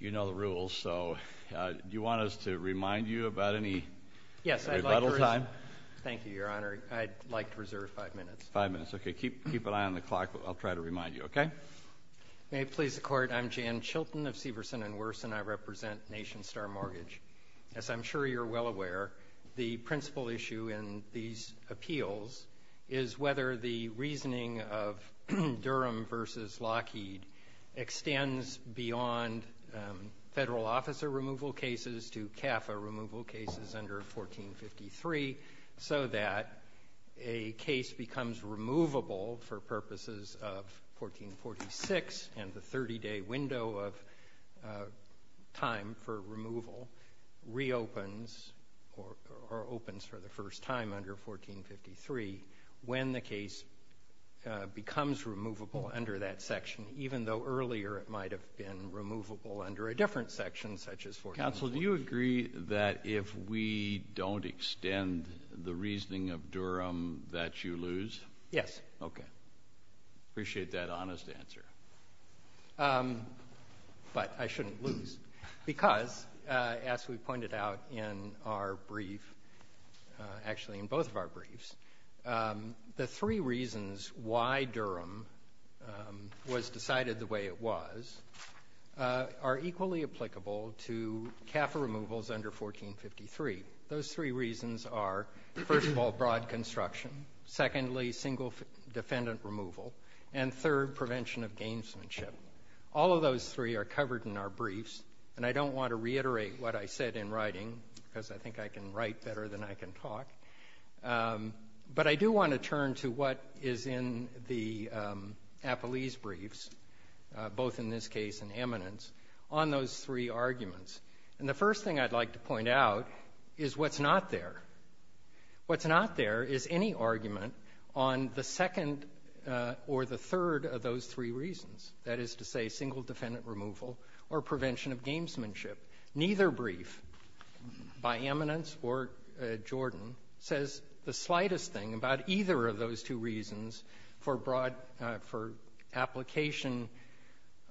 You know the rules, so do you want us to remind you about any rebuttal time? Yes. Thank you, Your Honor. I'd like to reserve five minutes. Five minutes. Okay. Keep an eye on the clock. I'll try to remind you. Okay? May it please the Court. I'm Jan Chilton of Severson & Worson. I represent Nationstar Mortgage. As I'm sure you're well aware, the principal issue in these appeals is whether the reasoning of Durham v. Lockheed extends beyond federal officer removal cases to CAFA removal cases under 1453 so that a case becomes removable for purposes of 1446 and the 30-day window of time for removal reopens or opens for the first time under 1453 when the case becomes removable under that section, even though earlier it might have been removable under a different section such as 1446. Counsel, do you agree that if we don't extend the reasoning of Durham that you lose? Yes. Okay. Appreciate that honest answer. But I shouldn't lose because, as we pointed out in our brief, actually in both of our briefs, the three reasons why Durham was decided the way it was are equally applicable to CAFA removals under 1453. Those three reasons are, first of all, broad construction, secondly, single defendant removal, and third, prevention of gamesmanship. All of those three are covered in our briefs, and I don't want to reiterate what I said in writing because I think I can write better than I can talk. But I do want to turn to what is in the Appellee's briefs, both in this case and Eminent's, on those three arguments. And the first thing I'd like to point out is what's not there. What's not there is any argument on the second or the third of those three reasons, that is to say single defendant removal or prevention of gamesmanship. Neither brief by Eminent's or Jordan says the slightest thing about either of those two reasons for application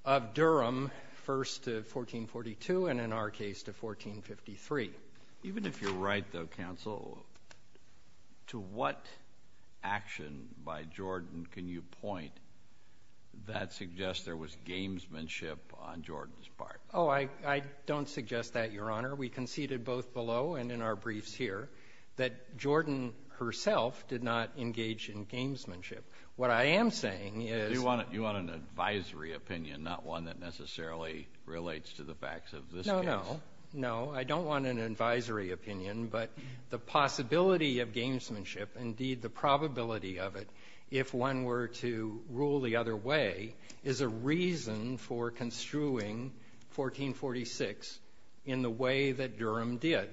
of Durham, first to 1442 and in our case to 1453. Even if you're right, though, counsel, to what action by Jordan can you point that suggests there was gamesmanship on Jordan's part? Oh, I don't suggest that, Your Honor. We conceded both below and in our briefs here that Jordan herself did not engage in gamesmanship. What I am saying is- You want an advisory opinion, not one that necessarily relates to the facts of this case. No, no. I don't want an advisory opinion, but the possibility of gamesmanship, indeed the probability of it, if one were to rule the other way, is a reason for construing 1446 in the way that Durham did.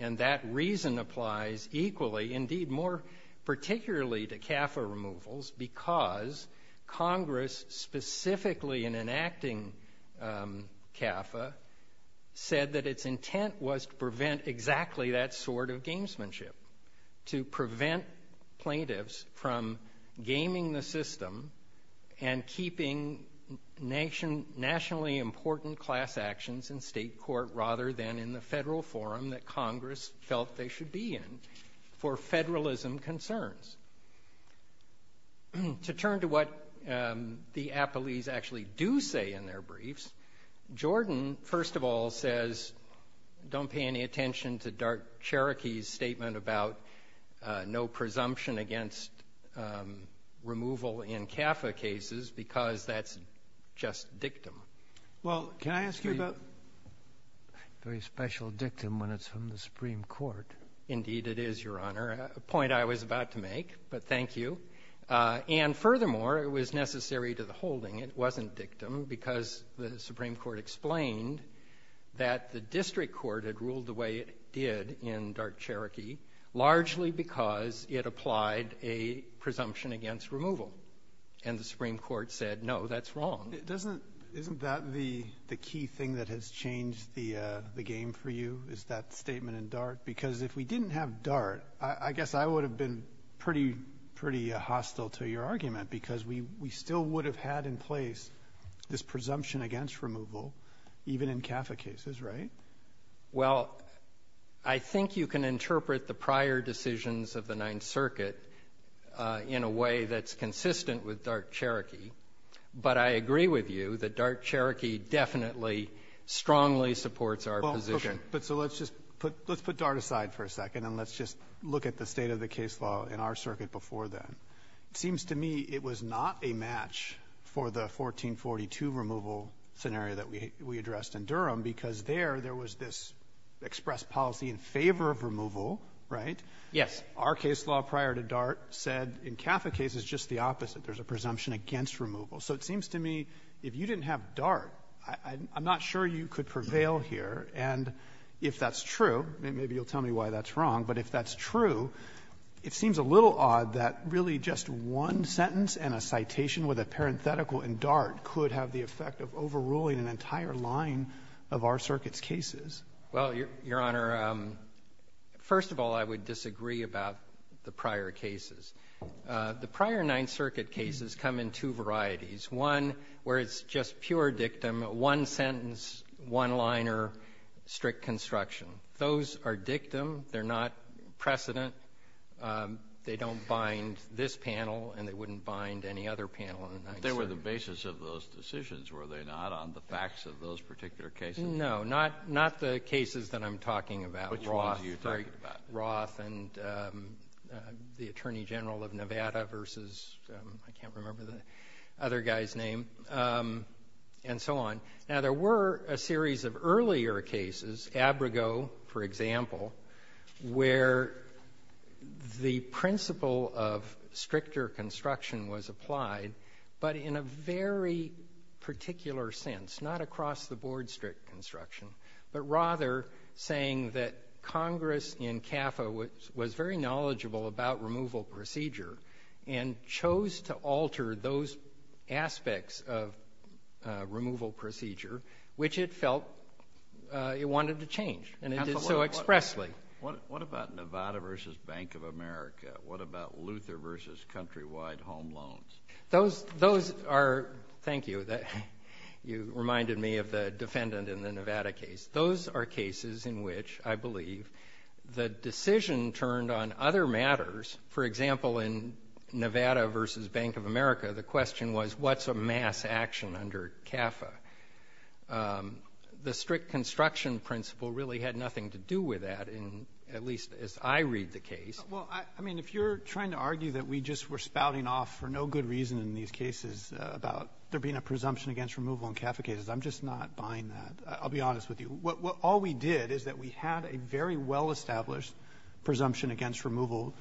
And that reason applies equally, indeed more particularly, to CAFA removals because Congress specifically in enacting CAFA said that its intent was to prevent exactly that sort of from gaming the system and keeping nationally important class actions in state court rather than in the federal forum that Congress felt they should be in for federalism concerns. To turn to what the appellees actually do say in their briefs, Jordan first of all says don't pay any attention to DART Cherokee's statement about no presumption against removal in CAFA cases because that's just dictum. Well, can I ask you about- Very special dictum when it's from the Supreme Court. Indeed, it is, Your Honor, a point I was about to make, but thank you. And furthermore, it was necessary to the holding, it wasn't dictum because the Supreme Court explained that the district court had ruled the way it did in DART Cherokee, largely because it applied a presumption against removal. And the Supreme Court said, no, that's wrong. Isn't that the key thing that has changed the game for you, is that statement in DART? Because if we didn't have DART, I guess I would have been pretty hostile to your argument because we still would have had in place this presumption against removal, even in CAFA cases, right? Well, I think you can interpret the prior decisions of the Ninth Circuit in a way that's consistent with DART Cherokee. But I agree with you that DART Cherokee definitely, strongly supports our position. But so let's just put, let's put DART aside for a second and let's just look at the state of the case law in our circuit before then. Seems to me it was not a match for the 1442 removal scenario that we addressed in Durham because there, there was this express policy in favor of removal, right? Yes. Our case law prior to DART said in CAFA cases, just the opposite, there's a presumption against removal. So it seems to me if you didn't have DART, I'm not sure you could prevail here. And if that's true, maybe you'll tell me why that's wrong, but if that's true, it seems a little odd that really just one sentence and a citation with a parenthetical in DART could have the effect of overruling an entire line of our circuit's cases. Well, Your Honor, first of all, I would disagree about the prior cases. The prior Ninth Circuit cases come in two varieties. One where it's just pure dictum, one sentence, one liner, strict construction. Those are dictum. They're not precedent. They don't bind this panel and they wouldn't bind any other panel in the Ninth Circuit. But they were the basis of those decisions, were they not, on the facts of those particular cases? No, not, not the cases that I'm talking about. Roth. Which ones are you talking about? Roth and the Attorney General of Nevada versus, I can't remember the other guy's name, and so on. Now, there were a series of earlier cases, Abrigo, for example, where the principle of stricter construction was applied, but in a very particular sense, not across the board strict construction, but rather saying that Congress in CAFA was very knowledgeable about removal procedure, which it felt it wanted to change, and it did so expressly. What about Nevada versus Bank of America? What about Luther versus countrywide home loans? Those are, thank you, you reminded me of the defendant in the Nevada case. Those are cases in which, I believe, the decision turned on other matters. For example, in Nevada versus Bank of America, the question was what's a mass action under CAFA? The strict construction principle really had nothing to do with that, at least as I read the case. Well, I mean, if you're trying to argue that we just were spouting off for no good reason in these cases about there being a presumption against removal in CAFA cases, I'm just not buying that. I'll be honest with you. All we did is that we had a very well-established presumption against removal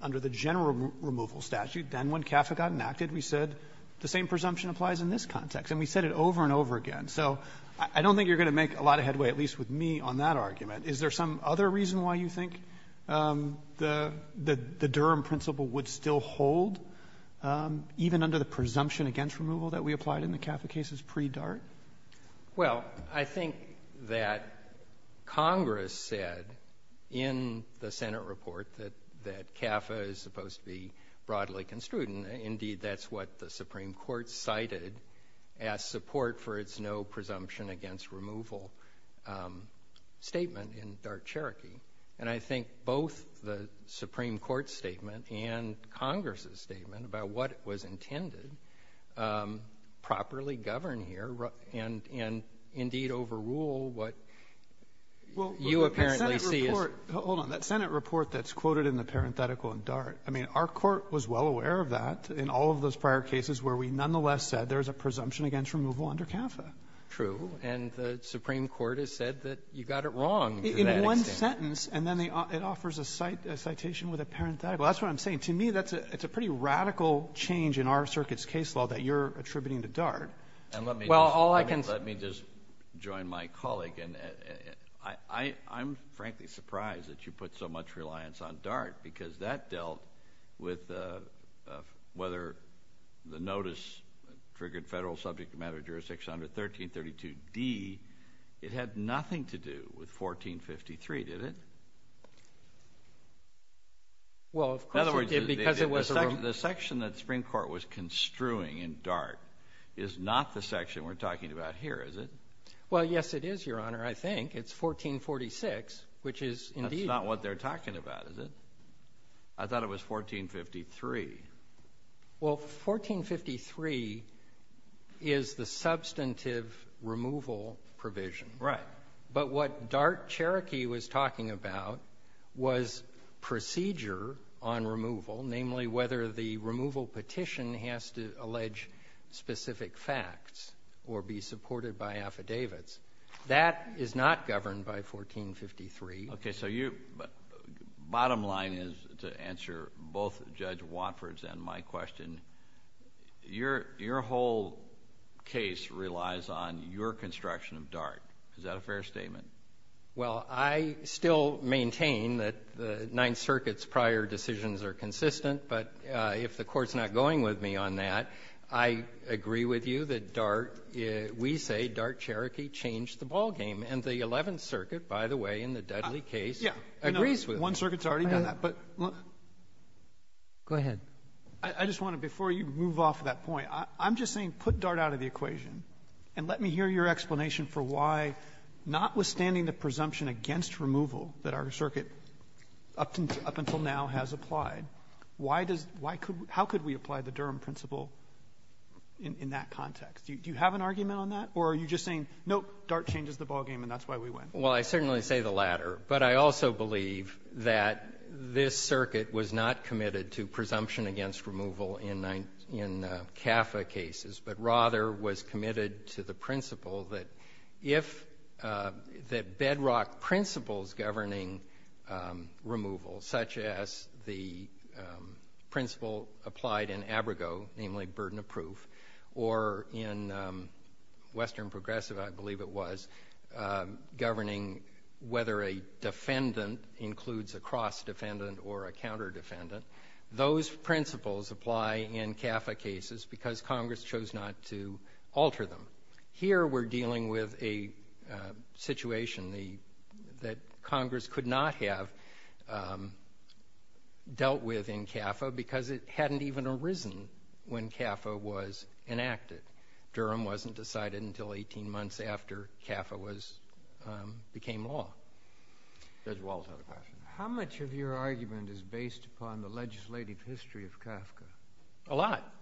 under the general removal statute. Then when CAFA got enacted, we said the same presumption applies in this context, and we said it over and over again. So I don't think you're going to make a lot of headway, at least with me, on that argument. Is there some other reason why you think the Durham principle would still hold, even under the presumption against removal that we applied in the CAFA cases pre-DART? Well, I think that Congress said in the Senate report that CAFA is supposed to be broadly construed. Indeed, that's what the Supreme Court cited as support for its no presumption against removal statement in DART-Cherokee. And I think both the Supreme Court's statement and Congress's statement about what was intended properly govern here and indeed overrule what you apparently see as— Well, hold on. That Senate report that's quoted in the parenthetical in DART, I mean, our court was well aware of that in all of those prior cases where we nonetheless said there's a presumption against removal under CAFA. True. And the Supreme Court has said that you got it wrong to that extent. In one sentence, and then it offers a citation with a parenthetical. That's what I'm saying. To me, that's a pretty radical change in our circuit's case law that you're attributing to DART. And let me just— Well, all I can say— Let me just join my colleague in—I'm frankly surprised that you put so much reliance on whether the notice triggered federal subject matter jurisdiction under 1332d. It had nothing to do with 1453, did it? Well, of course it did because it was— The section that the Supreme Court was construing in DART is not the section we're talking about here, is it? Well, yes, it is, Your Honor. I think. It's 1446, which is indeed— That's not what they're talking about, is it? I thought it was 1453. Well, 1453 is the substantive removal provision. Right. But what DART-Cherokee was talking about was procedure on removal, namely whether the removal petition has to allege specific facts or be supported by affidavits. That is not governed by 1453. Okay, so you—bottom line is, to answer both Judge Watford's and my question, your whole case relies on your construction of DART. Is that a fair statement? Well, I still maintain that the Ninth Circuit's prior decisions are consistent, but if the Court's not going with me on that, I agree with you that DART—we say DART-Cherokee changed the ballgame. And the Eleventh Circuit, by the way, in the Dudley case, agrees with it. One circuit's already done that, but— Go ahead. I just want to, before you move off that point, I'm just saying put DART out of the equation and let me hear your explanation for why, notwithstanding the presumption against removal that our circuit, up until now, has applied, why does—how could we apply the Durham principle in that context? Do you have an argument on that, or are you just saying, nope, DART changes the ballgame and that's why we win? Well, I certainly say the latter, but I also believe that this circuit was not committed to presumption against removal in CAFA cases, but rather was committed to the principle that if—that bedrock principles governing removal, such as the principle applied in governing whether a defendant includes a cross-defendant or a counter-defendant, those principles apply in CAFA cases because Congress chose not to alter them. Here we're dealing with a situation that Congress could not have dealt with in CAFA because it hadn't even arisen when CAFA was enacted. It—Durham wasn't decided until 18 months after CAFA was—became law, as well as other questions. How much of your argument is based upon the legislative history of CAFCA? A lot.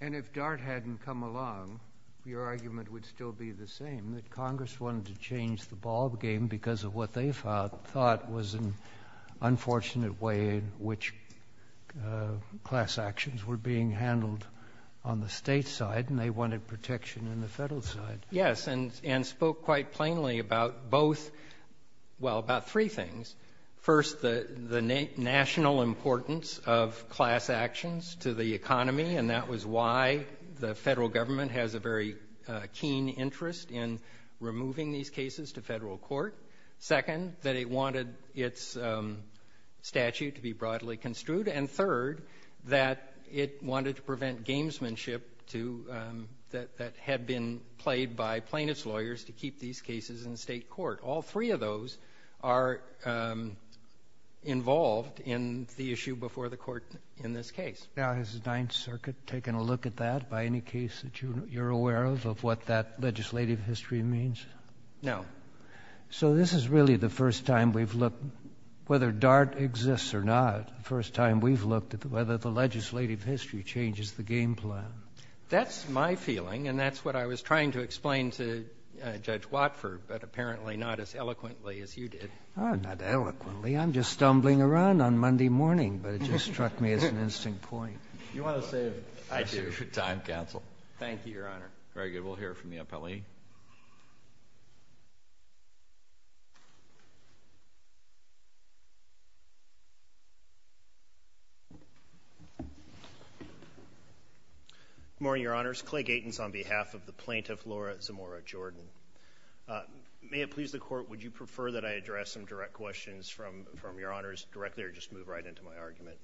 And if DART hadn't come along, your argument would still be the same, that Congress wanted to change the ballgame because of what they thought was an unfortunate way in which class actions were being handled on the state side, and they wanted protection on the federal side. Yes. And spoke quite plainly about both—well, about three things. First, the national importance of class actions to the economy, and that was why the federal government has a very keen interest in removing these cases to federal court. Second, that it wanted its statute to be broadly construed. And third, that it wanted to prevent gamesmanship to—that had been played by plaintiff's lawyers to keep these cases in state court. All three of those are involved in the issue before the court in this case. Now, has the Ninth Circuit taken a look at that by any case that you're aware of, of what that legislative history means? No. So this is really the first time we've looked—whether DART exists or not, the first time we've looked at whether the legislative history changes the game plan. That's my feeling, and that's what I was trying to explain to Judge Watford, but apparently not as eloquently as you did. Oh, not eloquently. I'm just stumbling around on Monday morning, but it just struck me as an interesting point. You want to save— I do. —your time, counsel. Thank you, Your Honor. Very good. Good morning, Your Honors. Clay Gatins on behalf of the plaintiff, Laura Zamora Jordan. May it please the Court, would you prefer that I address some direct questions from Your Honors directly or just move right into my argument?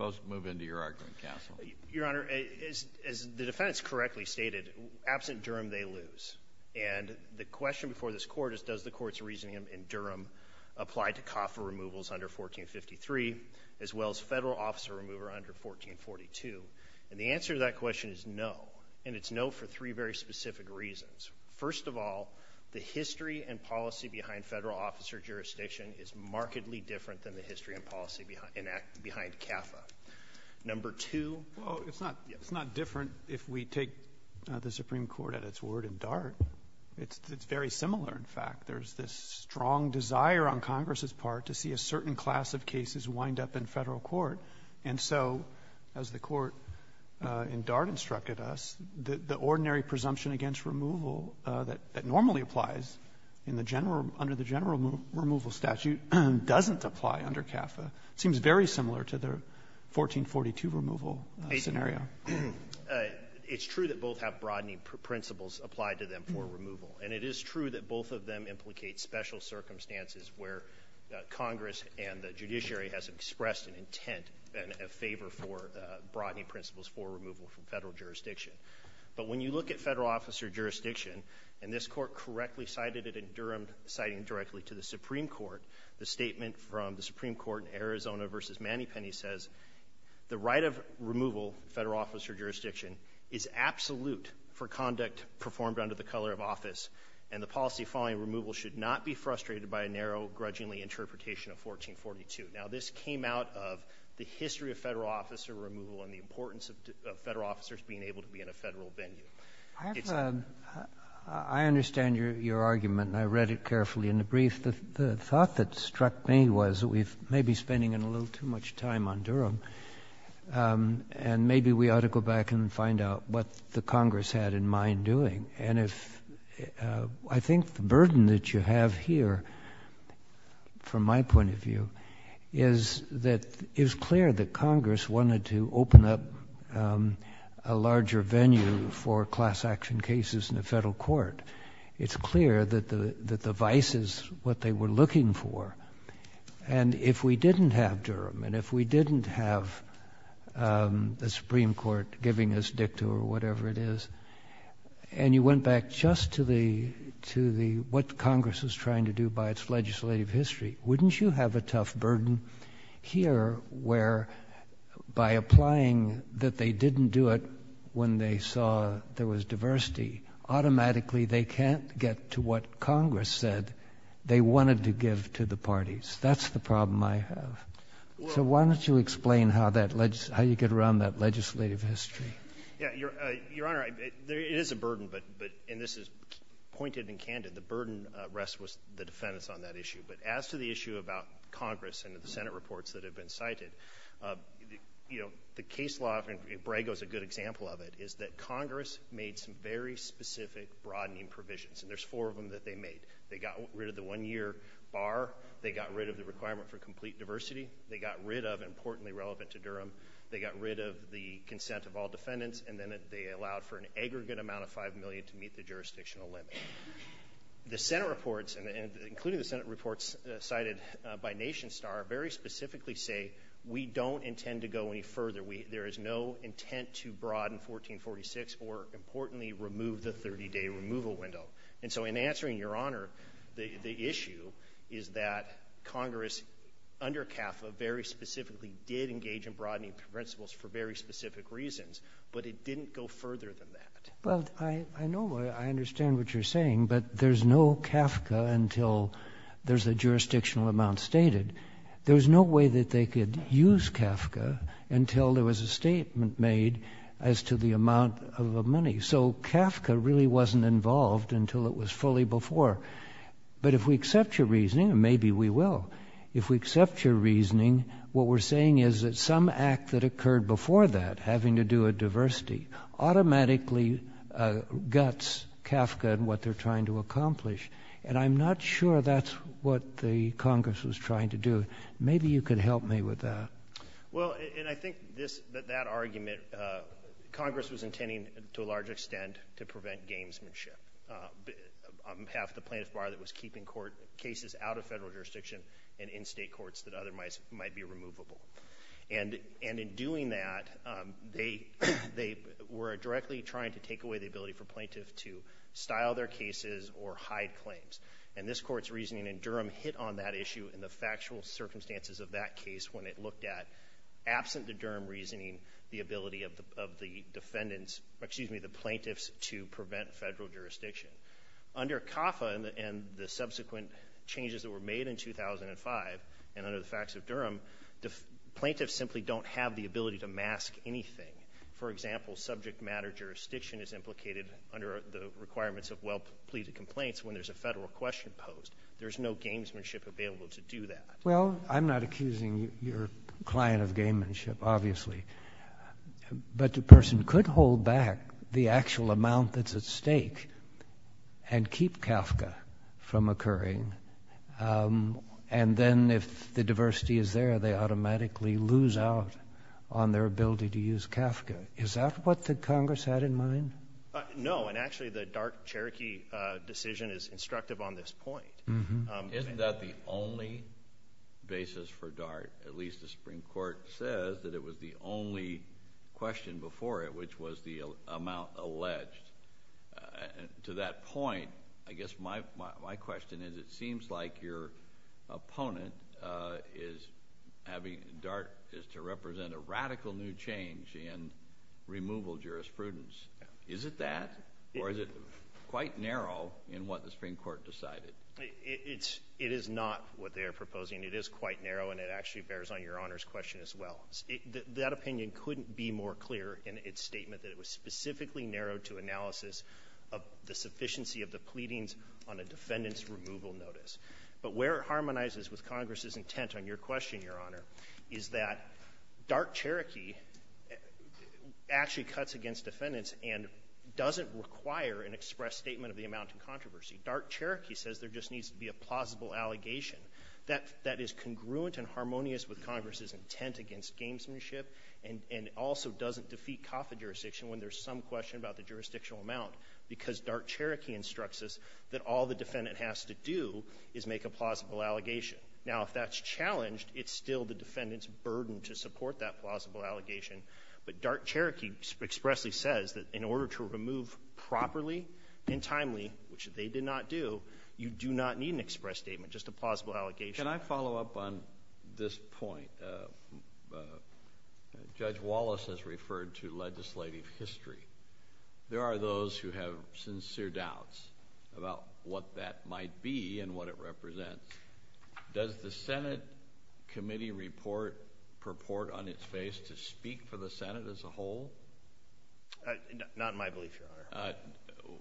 I'll move into your argument, counsel. Your Honor, as the defense correctly stated, absent Durham, they lose. And the question before this Court is, does the Court's reasoning in Durham apply to as well as federal officer remover under 1442? And the answer to that question is no, and it's no for three very specific reasons. First of all, the history and policy behind federal officer jurisdiction is markedly different than the history and policy behind CAFA. Number two— Well, it's not different if we take the Supreme Court at its word in Dart. It's very similar, in fact. There's this strong desire on Congress's part to see a certain class of cases wind up in the federal court, and so, as the Court in Dart instructed us, the ordinary presumption against removal that normally applies under the general removal statute doesn't apply under CAFA. It seems very similar to the 1442 removal scenario. It's true that both have broadening principles applied to them for removal, and it is true that both of them implicate special circumstances where Congress and the judiciary has expressed an intent and a favor for broadening principles for removal from federal jurisdiction. But when you look at federal officer jurisdiction, and this Court correctly cited it in Durham, citing directly to the Supreme Court, the statement from the Supreme Court in Arizona v. Manny Penney says, the right of removal, federal officer jurisdiction, is absolute for conduct performed under the color of office, and the policy following removal should not be frustrated by a narrow, grudgingly interpretation of 1442. Now, this came out of the history of federal officer removal and the importance of federal officers being able to be in a federal venue. I understand your argument, and I read it carefully in the brief. The thought that struck me was that we may be spending a little too much time on Durham, and maybe we ought to go back and find out what the Congress had in mind doing. And I think the burden that you have here, from my point of view, is that it is clear that Congress wanted to open up a larger venue for class action cases in the federal court. It's clear that the vice is what they were looking for, and if we didn't have Durham, and if we didn't have the Supreme Court giving us dicta or whatever it is, and you went back just to what Congress was trying to do by its legislative history, wouldn't you have a tough burden here where, by applying that they didn't do it when they saw there was diversity, automatically they can't get to what Congress said they wanted to give to the parties. That's the problem I have. So why don't you explain how you get around that legislative history. Yeah, Your Honor, there is a burden, and this is pointed and candid, the burden rests with the defendants on that issue. But as to the issue about Congress and the Senate reports that have been cited, you know, the case law, and Brago's a good example of it, is that Congress made some very specific broadening provisions, and there's four of them that they made. They got rid of the one-year bar. They got rid of the requirement for complete diversity. They got rid of, importantly relevant to Durham, they got rid of the consent of all defendants, and then they allowed for an aggregate amount of $5 million to meet the jurisdictional limit. The Senate reports, including the Senate reports cited by NationStar, very specifically say we don't intend to go any further. There is no intent to broaden 1446 or, importantly, remove the 30-day removal window. And so in answering, Your Honor, the issue is that Congress, under CAFCA, very specifically did engage in broadening principles for very specific reasons, but it didn't go further than that. Well, I know, I understand what you're saying, but there's no CAFCA until there's a jurisdictional amount stated. There's no way that they could use CAFCA until there was a statement made as to the amount of the money. So CAFCA really wasn't involved until it was fully before. But if we accept your reasoning, and maybe we will, if we accept your reasoning, what we're saying is that some act that occurred before that, having to do with diversity, automatically guts CAFCA and what they're trying to accomplish. And I'm not sure that's what the Congress was trying to do. Maybe you could help me with that. Well, and I think that that argument, Congress was intending, to a large extent, to prevent gamesmanship on behalf of the plaintiff bar that was keeping cases out of federal jurisdiction and in state courts that otherwise might be removable. And in doing that, they were directly trying to take away the ability for plaintiffs to style their cases or hide claims. And this Court's reasoning in Durham hit on that issue in the factual circumstances of that case when it looked at, absent the Durham reasoning, the ability of the plaintiffs to prevent federal jurisdiction. Under CAFCA and the subsequent changes that were made in 2005 and under the facts of Durham, plaintiffs simply don't have the ability to mask anything. For example, subject matter jurisdiction is implicated under the requirements of well-pleaded complaints when there's a federal question posed. There's no gamesmanship available to do that. Well, I'm not accusing your client of gamesmanship, obviously, but the person could hold back the actual amount that's at stake and keep CAFCA from occurring, and then if the diversity is there, they automatically lose out on their ability to use CAFCA. Is that what the Congress had in mind? No, and actually, the dark Cherokee decision is instructive on this point. Isn't that the only basis for DART? At least the Supreme Court says that it was the only question before it, which was the amount alleged. To that point, I guess my question is, it seems like your opponent is having—DART is to represent a radical new change in removal jurisprudence. Is it that, or is it quite narrow in what the Supreme Court decided? It is not what they are proposing. It is quite narrow, and it actually bears on Your Honor's question as well. That opinion couldn't be more clear in its statement that it was specifically narrowed to analysis of the sufficiency of the pleadings on a defendant's removal notice. But where it harmonizes with Congress's intent on your question, Your Honor, is that dark Cherokee actually cuts against defendants and doesn't require an express statement of the amount of controversy. Dark Cherokee says there just needs to be a plausible allegation. That is congruent and harmonious with Congress's intent against gamesmanship, and also doesn't defeat CAFA jurisdiction when there's some question about the jurisdictional amount, because dark Cherokee instructs us that all the defendant has to do is make a plausible allegation. Now, if that's challenged, it's still the defendant's burden to support that plausible allegation. But dark Cherokee expressly says that in order to remove properly and timely, which they did not do, you do not need an express statement, just a plausible allegation. Can I follow up on this point? Judge Wallace has referred to legislative history. There are those who have sincere doubts about what that might be and what it represents. Does the Senate Committee report purport on its face to speak for the Senate as a whole? Not in my belief, Your Honor. But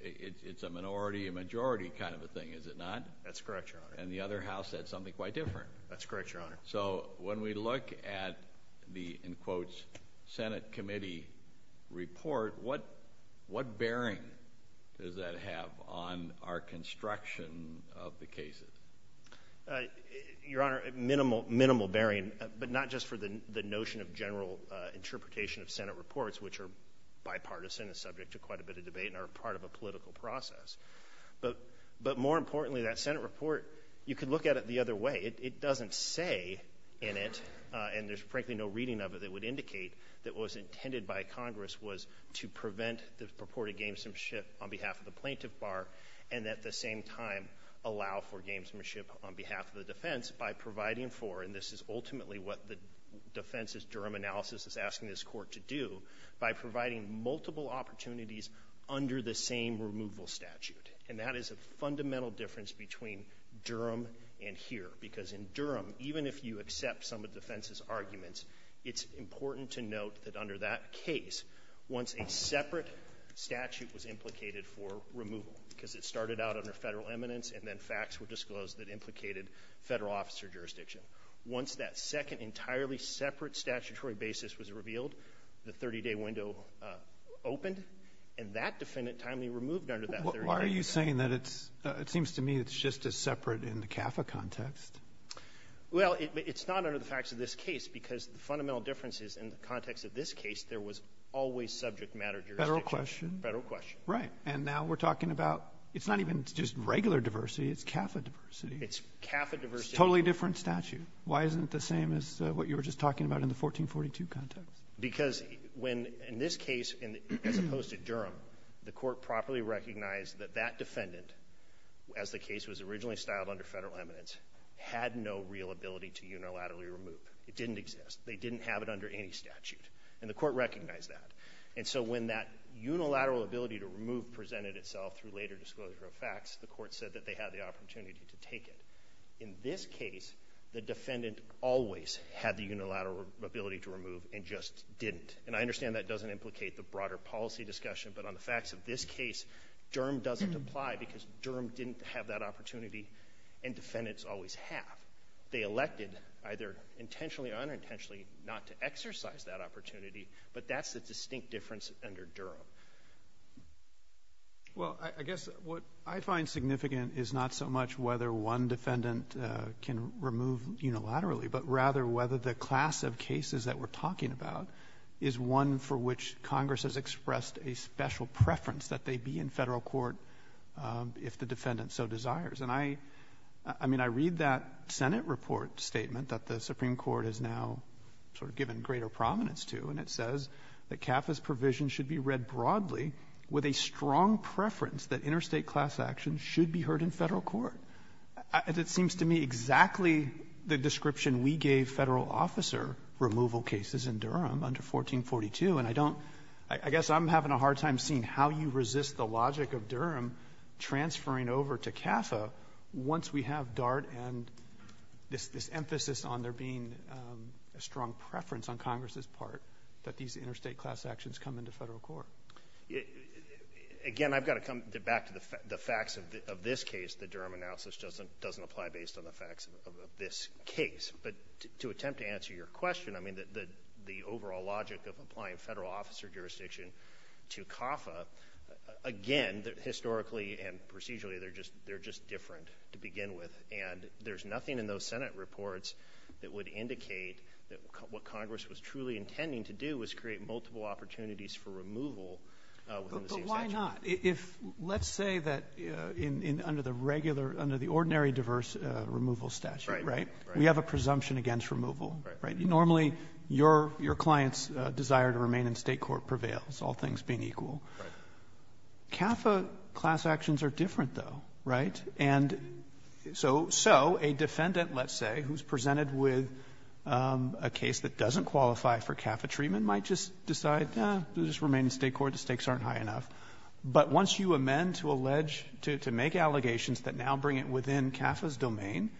it's a minority, a majority kind of a thing, is it not? That's correct, Your Honor. And the other House said something quite different. That's correct, Your Honor. So when we look at the, in quotes, Senate Committee report, what bearing does that have on our construction of the cases? Your Honor, minimal bearing, but not just for the notion of general interpretation of the case, but for the notion of general interpretation of the case itself. And I think that's what the Senate Committee report does. It does not say in it, and there's frankly no reading of it that would indicate that what was intended by Congress was to prevent the purported gamesmanship on behalf of the plaintiff bar, and at the same time allow for gamesmanship on behalf of the defense by providing for, and this is ultimately what the defense's Durham analysis is asking this court to do, by providing multiple opportunities under the same removal statute. And that is a fundamental difference between Durham and here. Because in Durham, even if you accept some of the defense's arguments, it's important to note that under that case, once a separate statute was implicated for removal, because it started out under federal eminence and then facts were disclosed that implicated federal officer jurisdiction. Once that second entirely separate statutory basis was revealed, the 30-day window opened, and that defendant timely removed under that 30-day window. Why are you saying that it's, it seems to me it's just as separate in the CAFA context? Well, it's not under the facts of this case, because the fundamental difference is in the context of this case, there was always subject matter jurisdiction. Federal question. Federal question. Right. And now we're talking about, it's not even just regular diversity, it's CAFA diversity. It's CAFA diversity. Totally different statute. Why isn't it the same as what you were just talking about in the 1442 context? Because when, in this case, as opposed to Durham, the court properly recognized that that defendant, as the case was originally styled under federal eminence, had no real ability to unilaterally remove. It didn't exist. They didn't have it under any statute. And the court recognized that. And so when that unilateral ability to remove presented itself through later disclosure of facts, the court said that they had the opportunity to take it. In this case, the defendant always had the unilateral ability to remove and just didn't. And I understand that doesn't implicate the broader policy discussion, but on the facts of this case, Durham doesn't apply, because Durham didn't have that opportunity, and defendants always have. They elected, either intentionally or unintentionally, not to exercise that opportunity, but that's the distinct difference under Durham. Well, I guess what I find significant is not so much whether one defendant can remove unilaterally, but rather whether the class of cases that we're talking about is one for which Congress has expressed a special preference that they be in federal court if the defendant so desires. And I mean, I read that Senate report statement that the Supreme Court has now sort of given greater prominence to, and it says that CAFA's provision should be read broadly with a strong preference that interstate class actions should be heard in federal court. It seems to me exactly the description we gave federal officer removal cases in Durham under 1442, and I don't... I guess I'm having a hard time seeing how you resist the logic of Durham transferring over to CAFA once we have Dart and this emphasis on there being a strong preference on Congress's part that these interstate class actions come into federal court. Again, I've got to come back to the facts of this case. The Durham analysis doesn't apply based on the facts of this case, but to attempt to answer your question, I mean, the overall logic of applying federal officer jurisdiction to CAFA, again, historically and procedurally, they're just different to begin with, and there's nothing in those Senate reports that would indicate that what Congress was truly intending to do was create multiple opportunities for removal within the same statute. But why not? Let's say that under the ordinary diverse removal statute, right? We have a presumption against removal, right? Normally, your client's desire to remain in state court prevails, all things being equal. CAFA class actions are different, though, right? So a defendant, let's say, who's presented with a case that doesn't qualify for CAFA treatment might just decide, eh, just remain in state court, the stakes aren't high enough. But once you amend to make allegations that now bring it within CAFA's domain,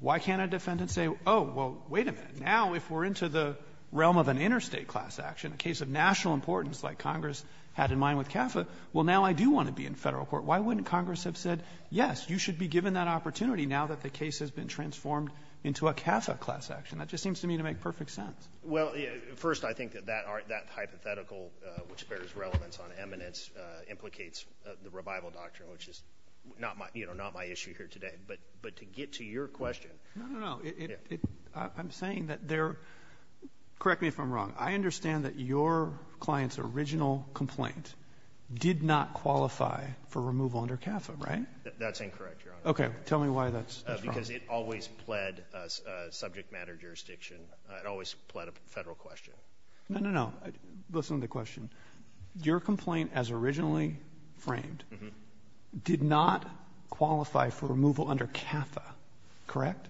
why can't a defendant say, oh, well, wait a minute. Now, if we're into the realm of an interstate class action, a case of national importance like Congress had in mind with CAFA, well, now I do want to be in federal court. Why wouldn't Congress have said, yes, you should be given that opportunity now that the case has been transformed into a CAFA class action? That just seems to me to make perfect sense. Well, first, I think that that hypothetical, which bears relevance on eminence, implicates the revival doctrine, which is not my issue here today. But to get to your question— No, no, no. I'm saying that there—correct me if I'm wrong. I understand that your client's original complaint did not qualify for removal under CAFA, right? That's incorrect, Your Honor. Okay, tell me why that's wrong. Because it always pled a subject matter jurisdiction. It always pled a federal question. No, no, no. Listen to the question. Your complaint, as originally framed, did not qualify for removal under CAFA, correct?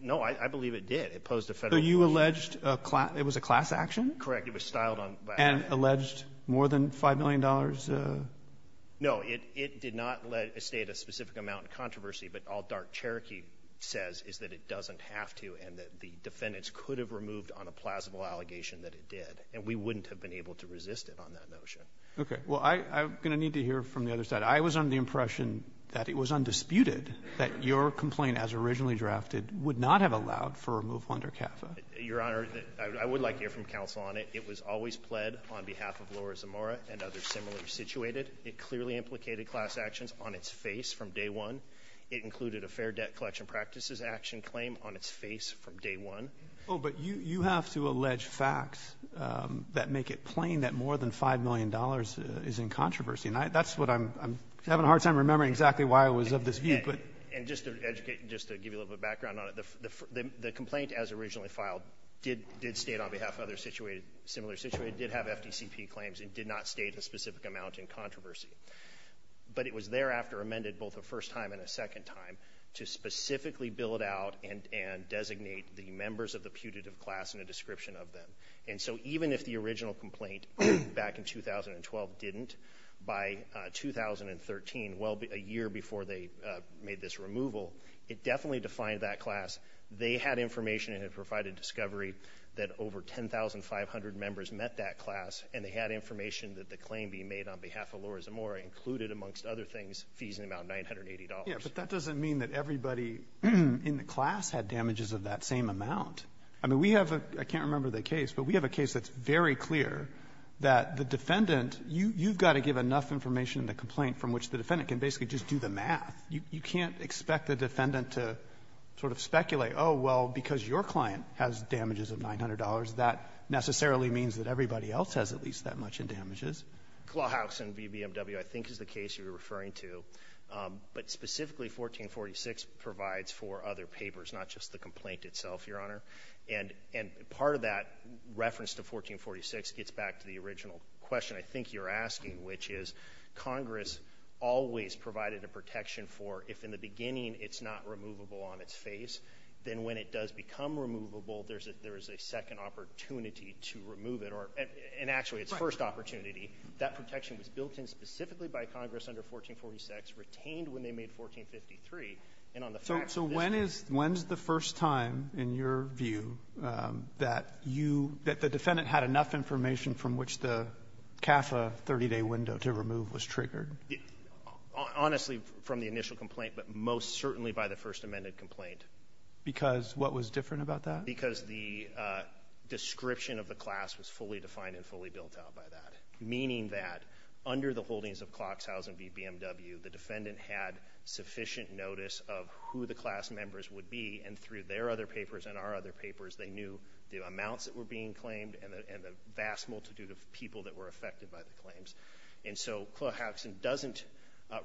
No, I believe it did. It posed a federal question. So you alleged it was a class action? Correct. It was styled on— And alleged more than $5 million? No, it did not state a specific amount of controversy. But all dark Cherokee says is that it doesn't have to, and that the defendants could have removed on a plausible allegation that it did. And we wouldn't have been able to resist it on that notion. Okay. Well, I'm going to need to hear from the other side. I was under the impression that it was undisputed that your complaint, as originally drafted, would not have allowed for removal under CAFA. Your Honor, I would like to hear from counsel on it. It was always pled on behalf of Laura Zamora and others similarly situated. It clearly implicated class actions on its face from day one. It included a fair debt collection practices action claim on its face from day one. Oh, but you have to allege facts that make it plain that more than $5 million is in controversy. And that's what I'm—I'm having a hard time remembering exactly why I was of this view. And just to educate—just to give you a little bit of background on it, the complaint, as originally filed, did—did state on behalf of other situated—similar situated—did have FDCP claims and did not state a specific amount in controversy. But it was thereafter amended both a first time and a second time to specifically build out and—and designate the members of the putative class in a description of them. And so even if the original complaint back in 2012 didn't, by 2013, well, a year before they made this removal, it definitely defined that class. They had information and had provided discovery that over 10,500 members met that class and they had information that the claim being made on behalf of Laura Zamora included, amongst other things, fees in the amount of $980. Yeah, but that doesn't mean that everybody in the class had damages of that same amount. I mean, we have a—I can't remember the case, but we have a case that's very clear that the defendant—you've got to give enough information in the complaint from which the defendant can basically just do the math. You—you can't expect the defendant to sort of speculate, oh, well, because your client has damages of $900, that necessarily means that everybody else has at least that much in damages. Clawhausen v. BMW, I think, is the case you're referring to. But specifically 1446 provides for other papers, not just the complaint itself, Your Honor. And—and part of that reference to 1446 gets back to the original question I think you're asking, which is Congress always provided a protection for if in the beginning it's not removable on its face, then when it does become removable, there's a—there's a second opportunity to remove it or—and actually, it's first opportunity. That protection was built in specifically by Congress under 1446, retained when they made 1453, and on the facts— So—so when is—when's the first time, in your view, that you—that the defendant had enough information from which the CAFA 30-day window to remove was triggered? Honestly, from the initial complaint, but most certainly by the first amended complaint. Because what was different about that? Because the description of the class was fully defined and fully built out by that, meaning that under the holdings of Clawhausen v. BMW, the defendant had sufficient notice of who the class members would be, and through their other papers and our other papers, they knew the amounts that were being claimed and the vast multitude of people that were affected by the claims. And so Clawhausen doesn't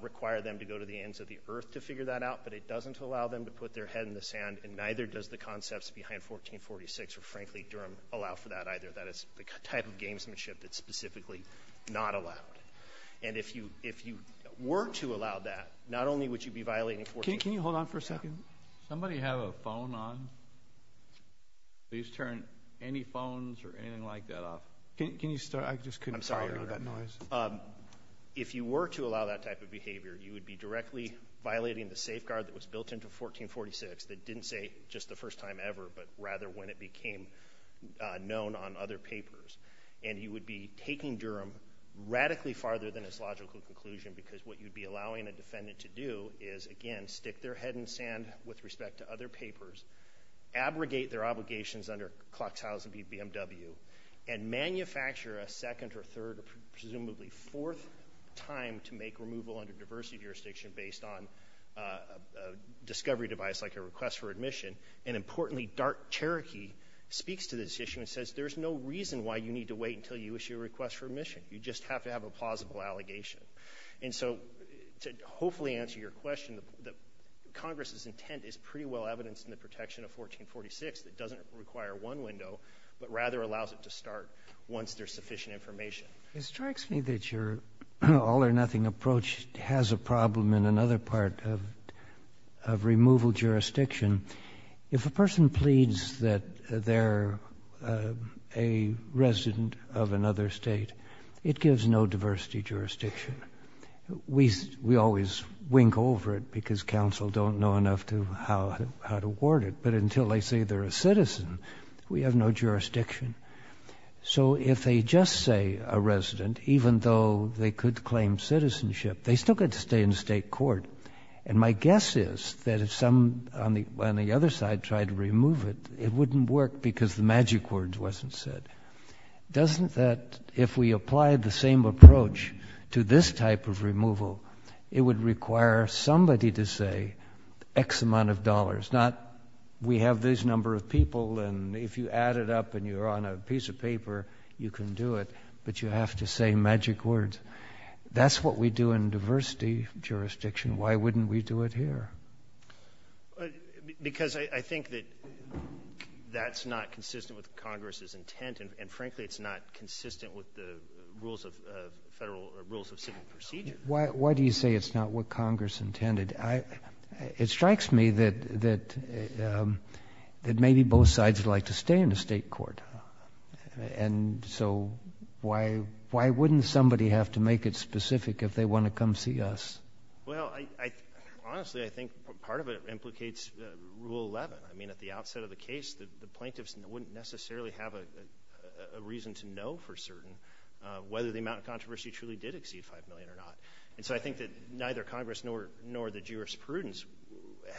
require them to go to the ends of the earth to figure that out, but it doesn't allow them to put their head in the sand, and neither does the concepts behind 1446, or frankly, Durham, allow for that either. That is the type of gamesmanship that's specifically not allowed. And if you—if you were to allow that, not only would you be violating 14— Can you hold on for a second? Somebody have a phone on? Please turn any phones or anything like that off. Can you start? I just couldn't tolerate that noise. If you were to allow that type of behavior, you would be directly violating the safeguard that was built into 1446 that didn't say, just the first time ever, but rather when it became known on other papers. And you would be taking Durham radically farther than its logical conclusion, because what with respect to other papers, abrogate their obligations under Clawhausen v. BMW, and manufacture a second or third or presumably fourth time to make removal under diversity jurisdiction based on a discovery device like a request for admission. And importantly, Dark Cherokee speaks to this issue and says, there's no reason why you need to wait until you issue a request for admission. You just have to have a plausible allegation. And so to hopefully answer your question, Congress's intent is pretty well evidenced in the protection of 1446 that doesn't require one window, but rather allows it to start once there's sufficient information. It strikes me that your all or nothing approach has a problem in another part of removal jurisdiction. If a person pleads that they're a resident of another state, it gives no diversity jurisdiction. We always wink over it because counsel don't know enough to how to ward it. But until they say they're a citizen, we have no jurisdiction. So if they just say a resident, even though they could claim citizenship, they still get to stay in state court. And my guess is that if some on the other side tried to remove it, it wouldn't work because the magic words wasn't said. Doesn't that, if we apply the same approach to this type of removal, it would require somebody to say X amount of dollars, not we have this number of people and if you add it up and you're on a piece of paper, you can do it, but you have to say magic words. That's what we do in diversity jurisdiction. Why wouldn't we do it here? But because I think that that's not consistent with Congress's intent and frankly, it's not consistent with the rules of federal rules of civil procedure. Why do you say it's not what Congress intended? It strikes me that maybe both sides would like to stay in the state court. And so why wouldn't somebody have to make it specific if they want to come see us? Well, I honestly, I think part of it implicates rule 11. I mean, at the outset of the case, the plaintiffs wouldn't necessarily have a reason to know for certain whether the amount of controversy truly did exceed 5 million or not. And so I think that neither Congress nor the jurisprudence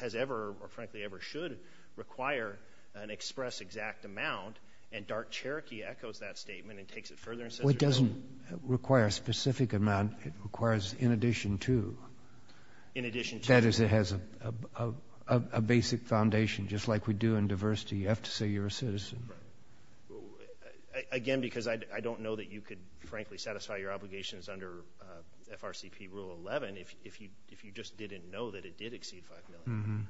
has ever, or frankly, ever should require an express exact amount and dark Cherokee echoes that statement and takes it further. It doesn't require a specific amount. It requires in addition to, in addition to that is it has a basic foundation, just like we do in diversity. You have to say you're a citizen again, because I don't know that you could frankly satisfy your obligations under FRCP rule 11. If you, if you, if you just didn't know that it did exceed 5 million,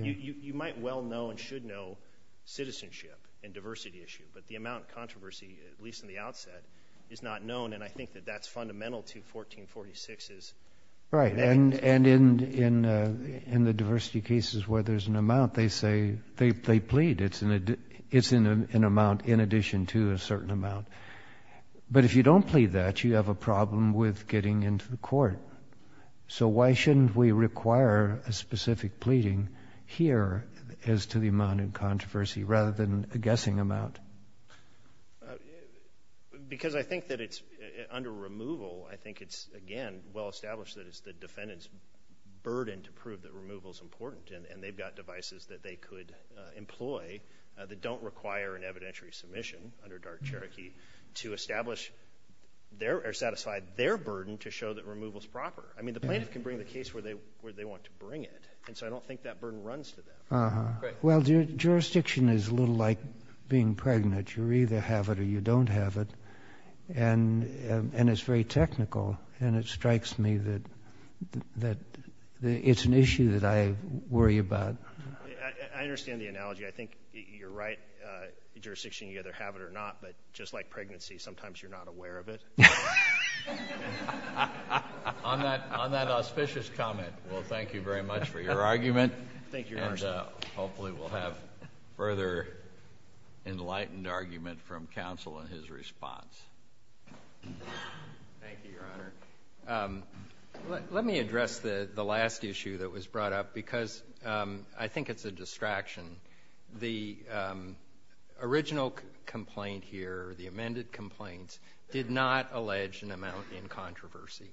you might well know and should know citizenship and diversity issue, but the amount of controversy, at least in the outset is not known. And I think that that's fundamental to 1446 is right. And, and in, in, uh, in the diversity cases where there's an amount, they say they, they plead it's in a, it's in an amount in addition to a certain amount. But if you don't plead that you have a problem with getting into the court. So why shouldn't we require a specific pleading here as to the amount of controversy rather than a guessing amount? Because I think that it's under removal. I think it's again, well-established that it's the defendant's burden to prove that removal is important. And they've got devices that they could employ that don't require an evidentiary submission under dark Cherokee to establish their, or satisfy their burden to show that removal is proper. I mean, the plaintiff can bring the case where they, where they want to bring it. And so I don't think that burden runs to them. Uh-huh. Well, jurisdiction is a little like being pregnant. You either have it or you don't have it. And, um, and it's very technical and it strikes me that, that it's an issue that I worry about. I understand the analogy. I think you're right. Uh, jurisdiction, you either have it or not, but just like pregnancy, sometimes you're not aware of it. On that, on that auspicious comment. Well, thank you very much for your argument. Thank you. Hopefully we'll have further enlightened argument from counsel in his response. Thank you, Your Honor. Let me address the, the last issue that was brought up because, um, I think it's a distraction. The, um, original complaint here, the amended complaints did not allege an amount in controversy.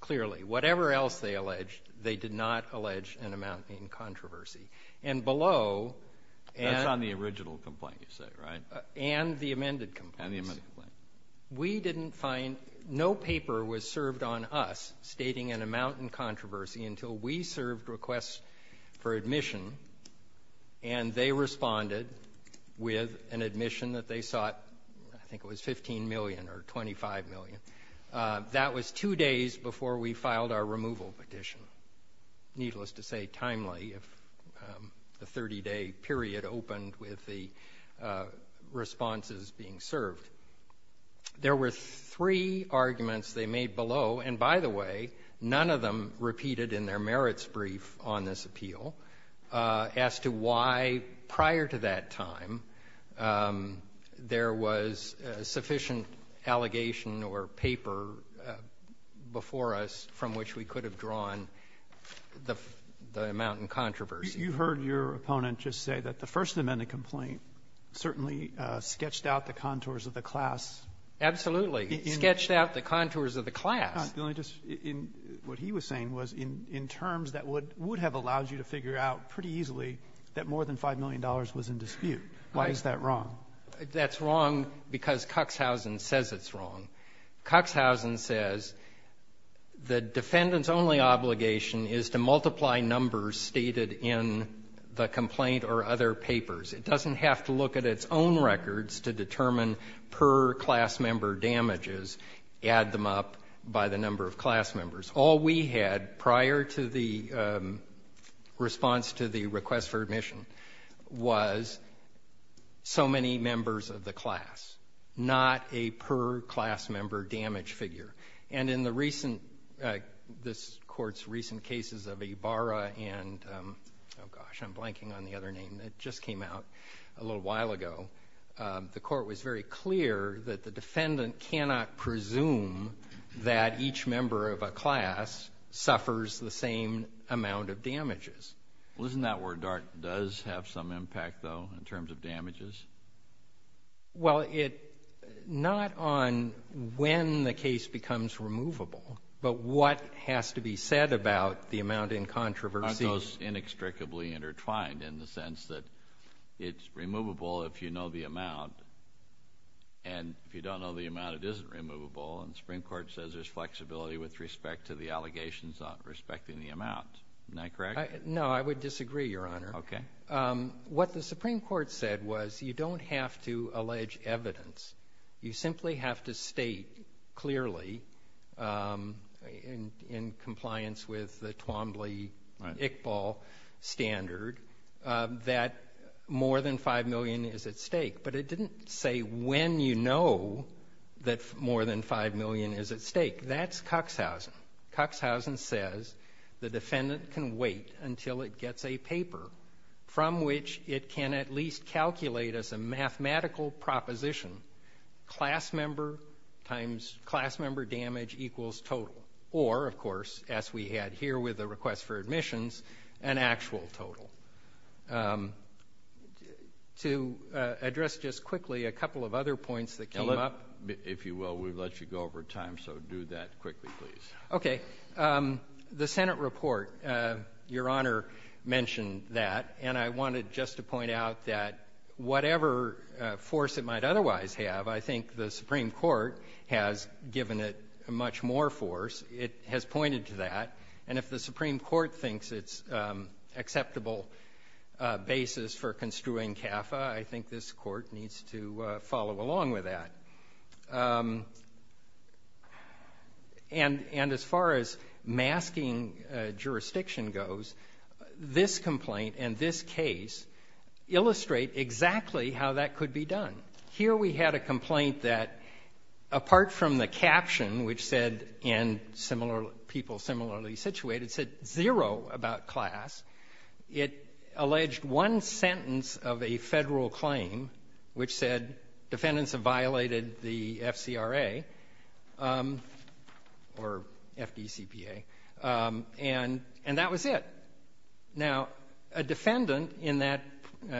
Clearly, whatever else they alleged, they did not allege an amount in controversy. And below and on the original complaint, you said, right? And the amended complaint, we didn't find no paper was served on us stating an amount in controversy until we served requests for admission. And they responded with an admission that they sought. I think it was 15 million or 25 million. That was two days before we filed our removal petition. Needless to say timely, if, um, the 30 day period opened with the, uh, responses being served, there were three arguments they made below. And by the way, none of them repeated in their merits brief on this appeal, uh, as to why prior to that time, um, there was a sufficient allegation or paper, uh, before us from which we could have drawn the, the amount in controversy. You heard your opponent just say that the first amendment complaint certainly, uh, sketched out the contours of the class. Absolutely. Sketched out the contours of the class. I'm just, in what he was saying was in, in terms that would, would have allowed you to figure out pretty easily that more than $5 million was in dispute. Why is that wrong? That's wrong because Coxhausen says it's wrong. Coxhausen says the defendant's only obligation is to multiply numbers stated in the complaint or other papers. It doesn't have to look at its own records to determine per class member damages, add them up by the number of class members. All we had prior to the, um, response to the request for admission was so many members of the class, not a per class member damage figure. And in the recent, uh, this court's recent cases of Ibarra and, um, oh gosh, I'm blanking on the other name that just came out a little while ago. Um, the court was very clear that the defendant cannot presume that each member of a class suffers the same amount of damages. Well, isn't that where DART does have some impact though, in terms of damages? Well, it, not on when the case becomes removable, but what has to be said about the amount in controversy. Aren't those inextricably intertwined in the sense that it's removable if you know the amount, and if you don't know the amount, it isn't removable, and the Supreme Court says there's flexibility with respect to the allegations on respecting the amount. Isn't that correct? No, I would disagree, Your Honor. Okay. What the Supreme Court said was you don't have to allege evidence. You simply have to state clearly, um, in compliance with the Twombly-Iqbal standard, that more than $5 million is at stake. But it didn't say when you know that more than $5 million is at stake. That's Cuxhausen. Cuxhausen says the defendant can wait until it gets a paper from which it can at least calculate as a mathematical proposition, class member times class member damage equals total. Or, of course, as we had here with the request for admissions, an actual total. To address just quickly a couple of other points that came up. If you will, we've let you go over time, so do that quickly, please. Okay. The Senate report, Your Honor mentioned that. And I wanted just to point out that whatever force it might otherwise have, I think the Supreme Court has given it much more force. It has pointed to that. And if the Supreme Court thinks it's an acceptable basis for construing CAFA, I think this court needs to follow along with that. And as far as masking jurisdiction goes, this complaint and this case illustrate exactly how that could be done. Here we had a complaint that, apart from the caption, which said, and people similarly situated, said zero about class, it alleged one sentence of a federal claim which said defendants have violated the FCRA, or FDCPA, and that was it. Now, a defendant in that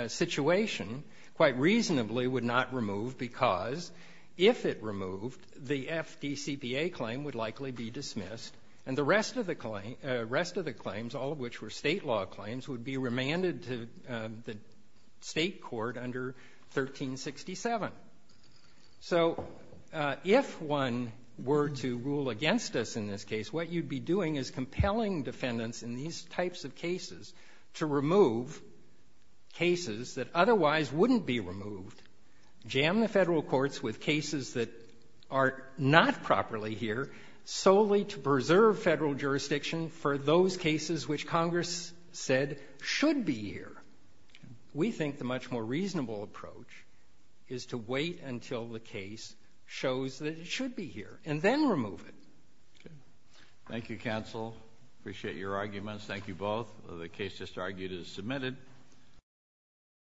situation quite reasonably would not remove because if it removed, the FDCPA claim would likely be dismissed and the rest of the claims, all of which were So, if one were to rule against us in this case, what you'd be doing is compelling defendants in these types of cases to remove cases that otherwise wouldn't be removed, jam the federal courts with cases that are not properly here solely to preserve federal jurisdiction for those cases which Congress said should be here. We think the much more reasonable approach is to wait until the case shows that it should be here and then remove it. Thank you, counsel. Appreciate your arguments. Thank you both. The case just argued is submitted.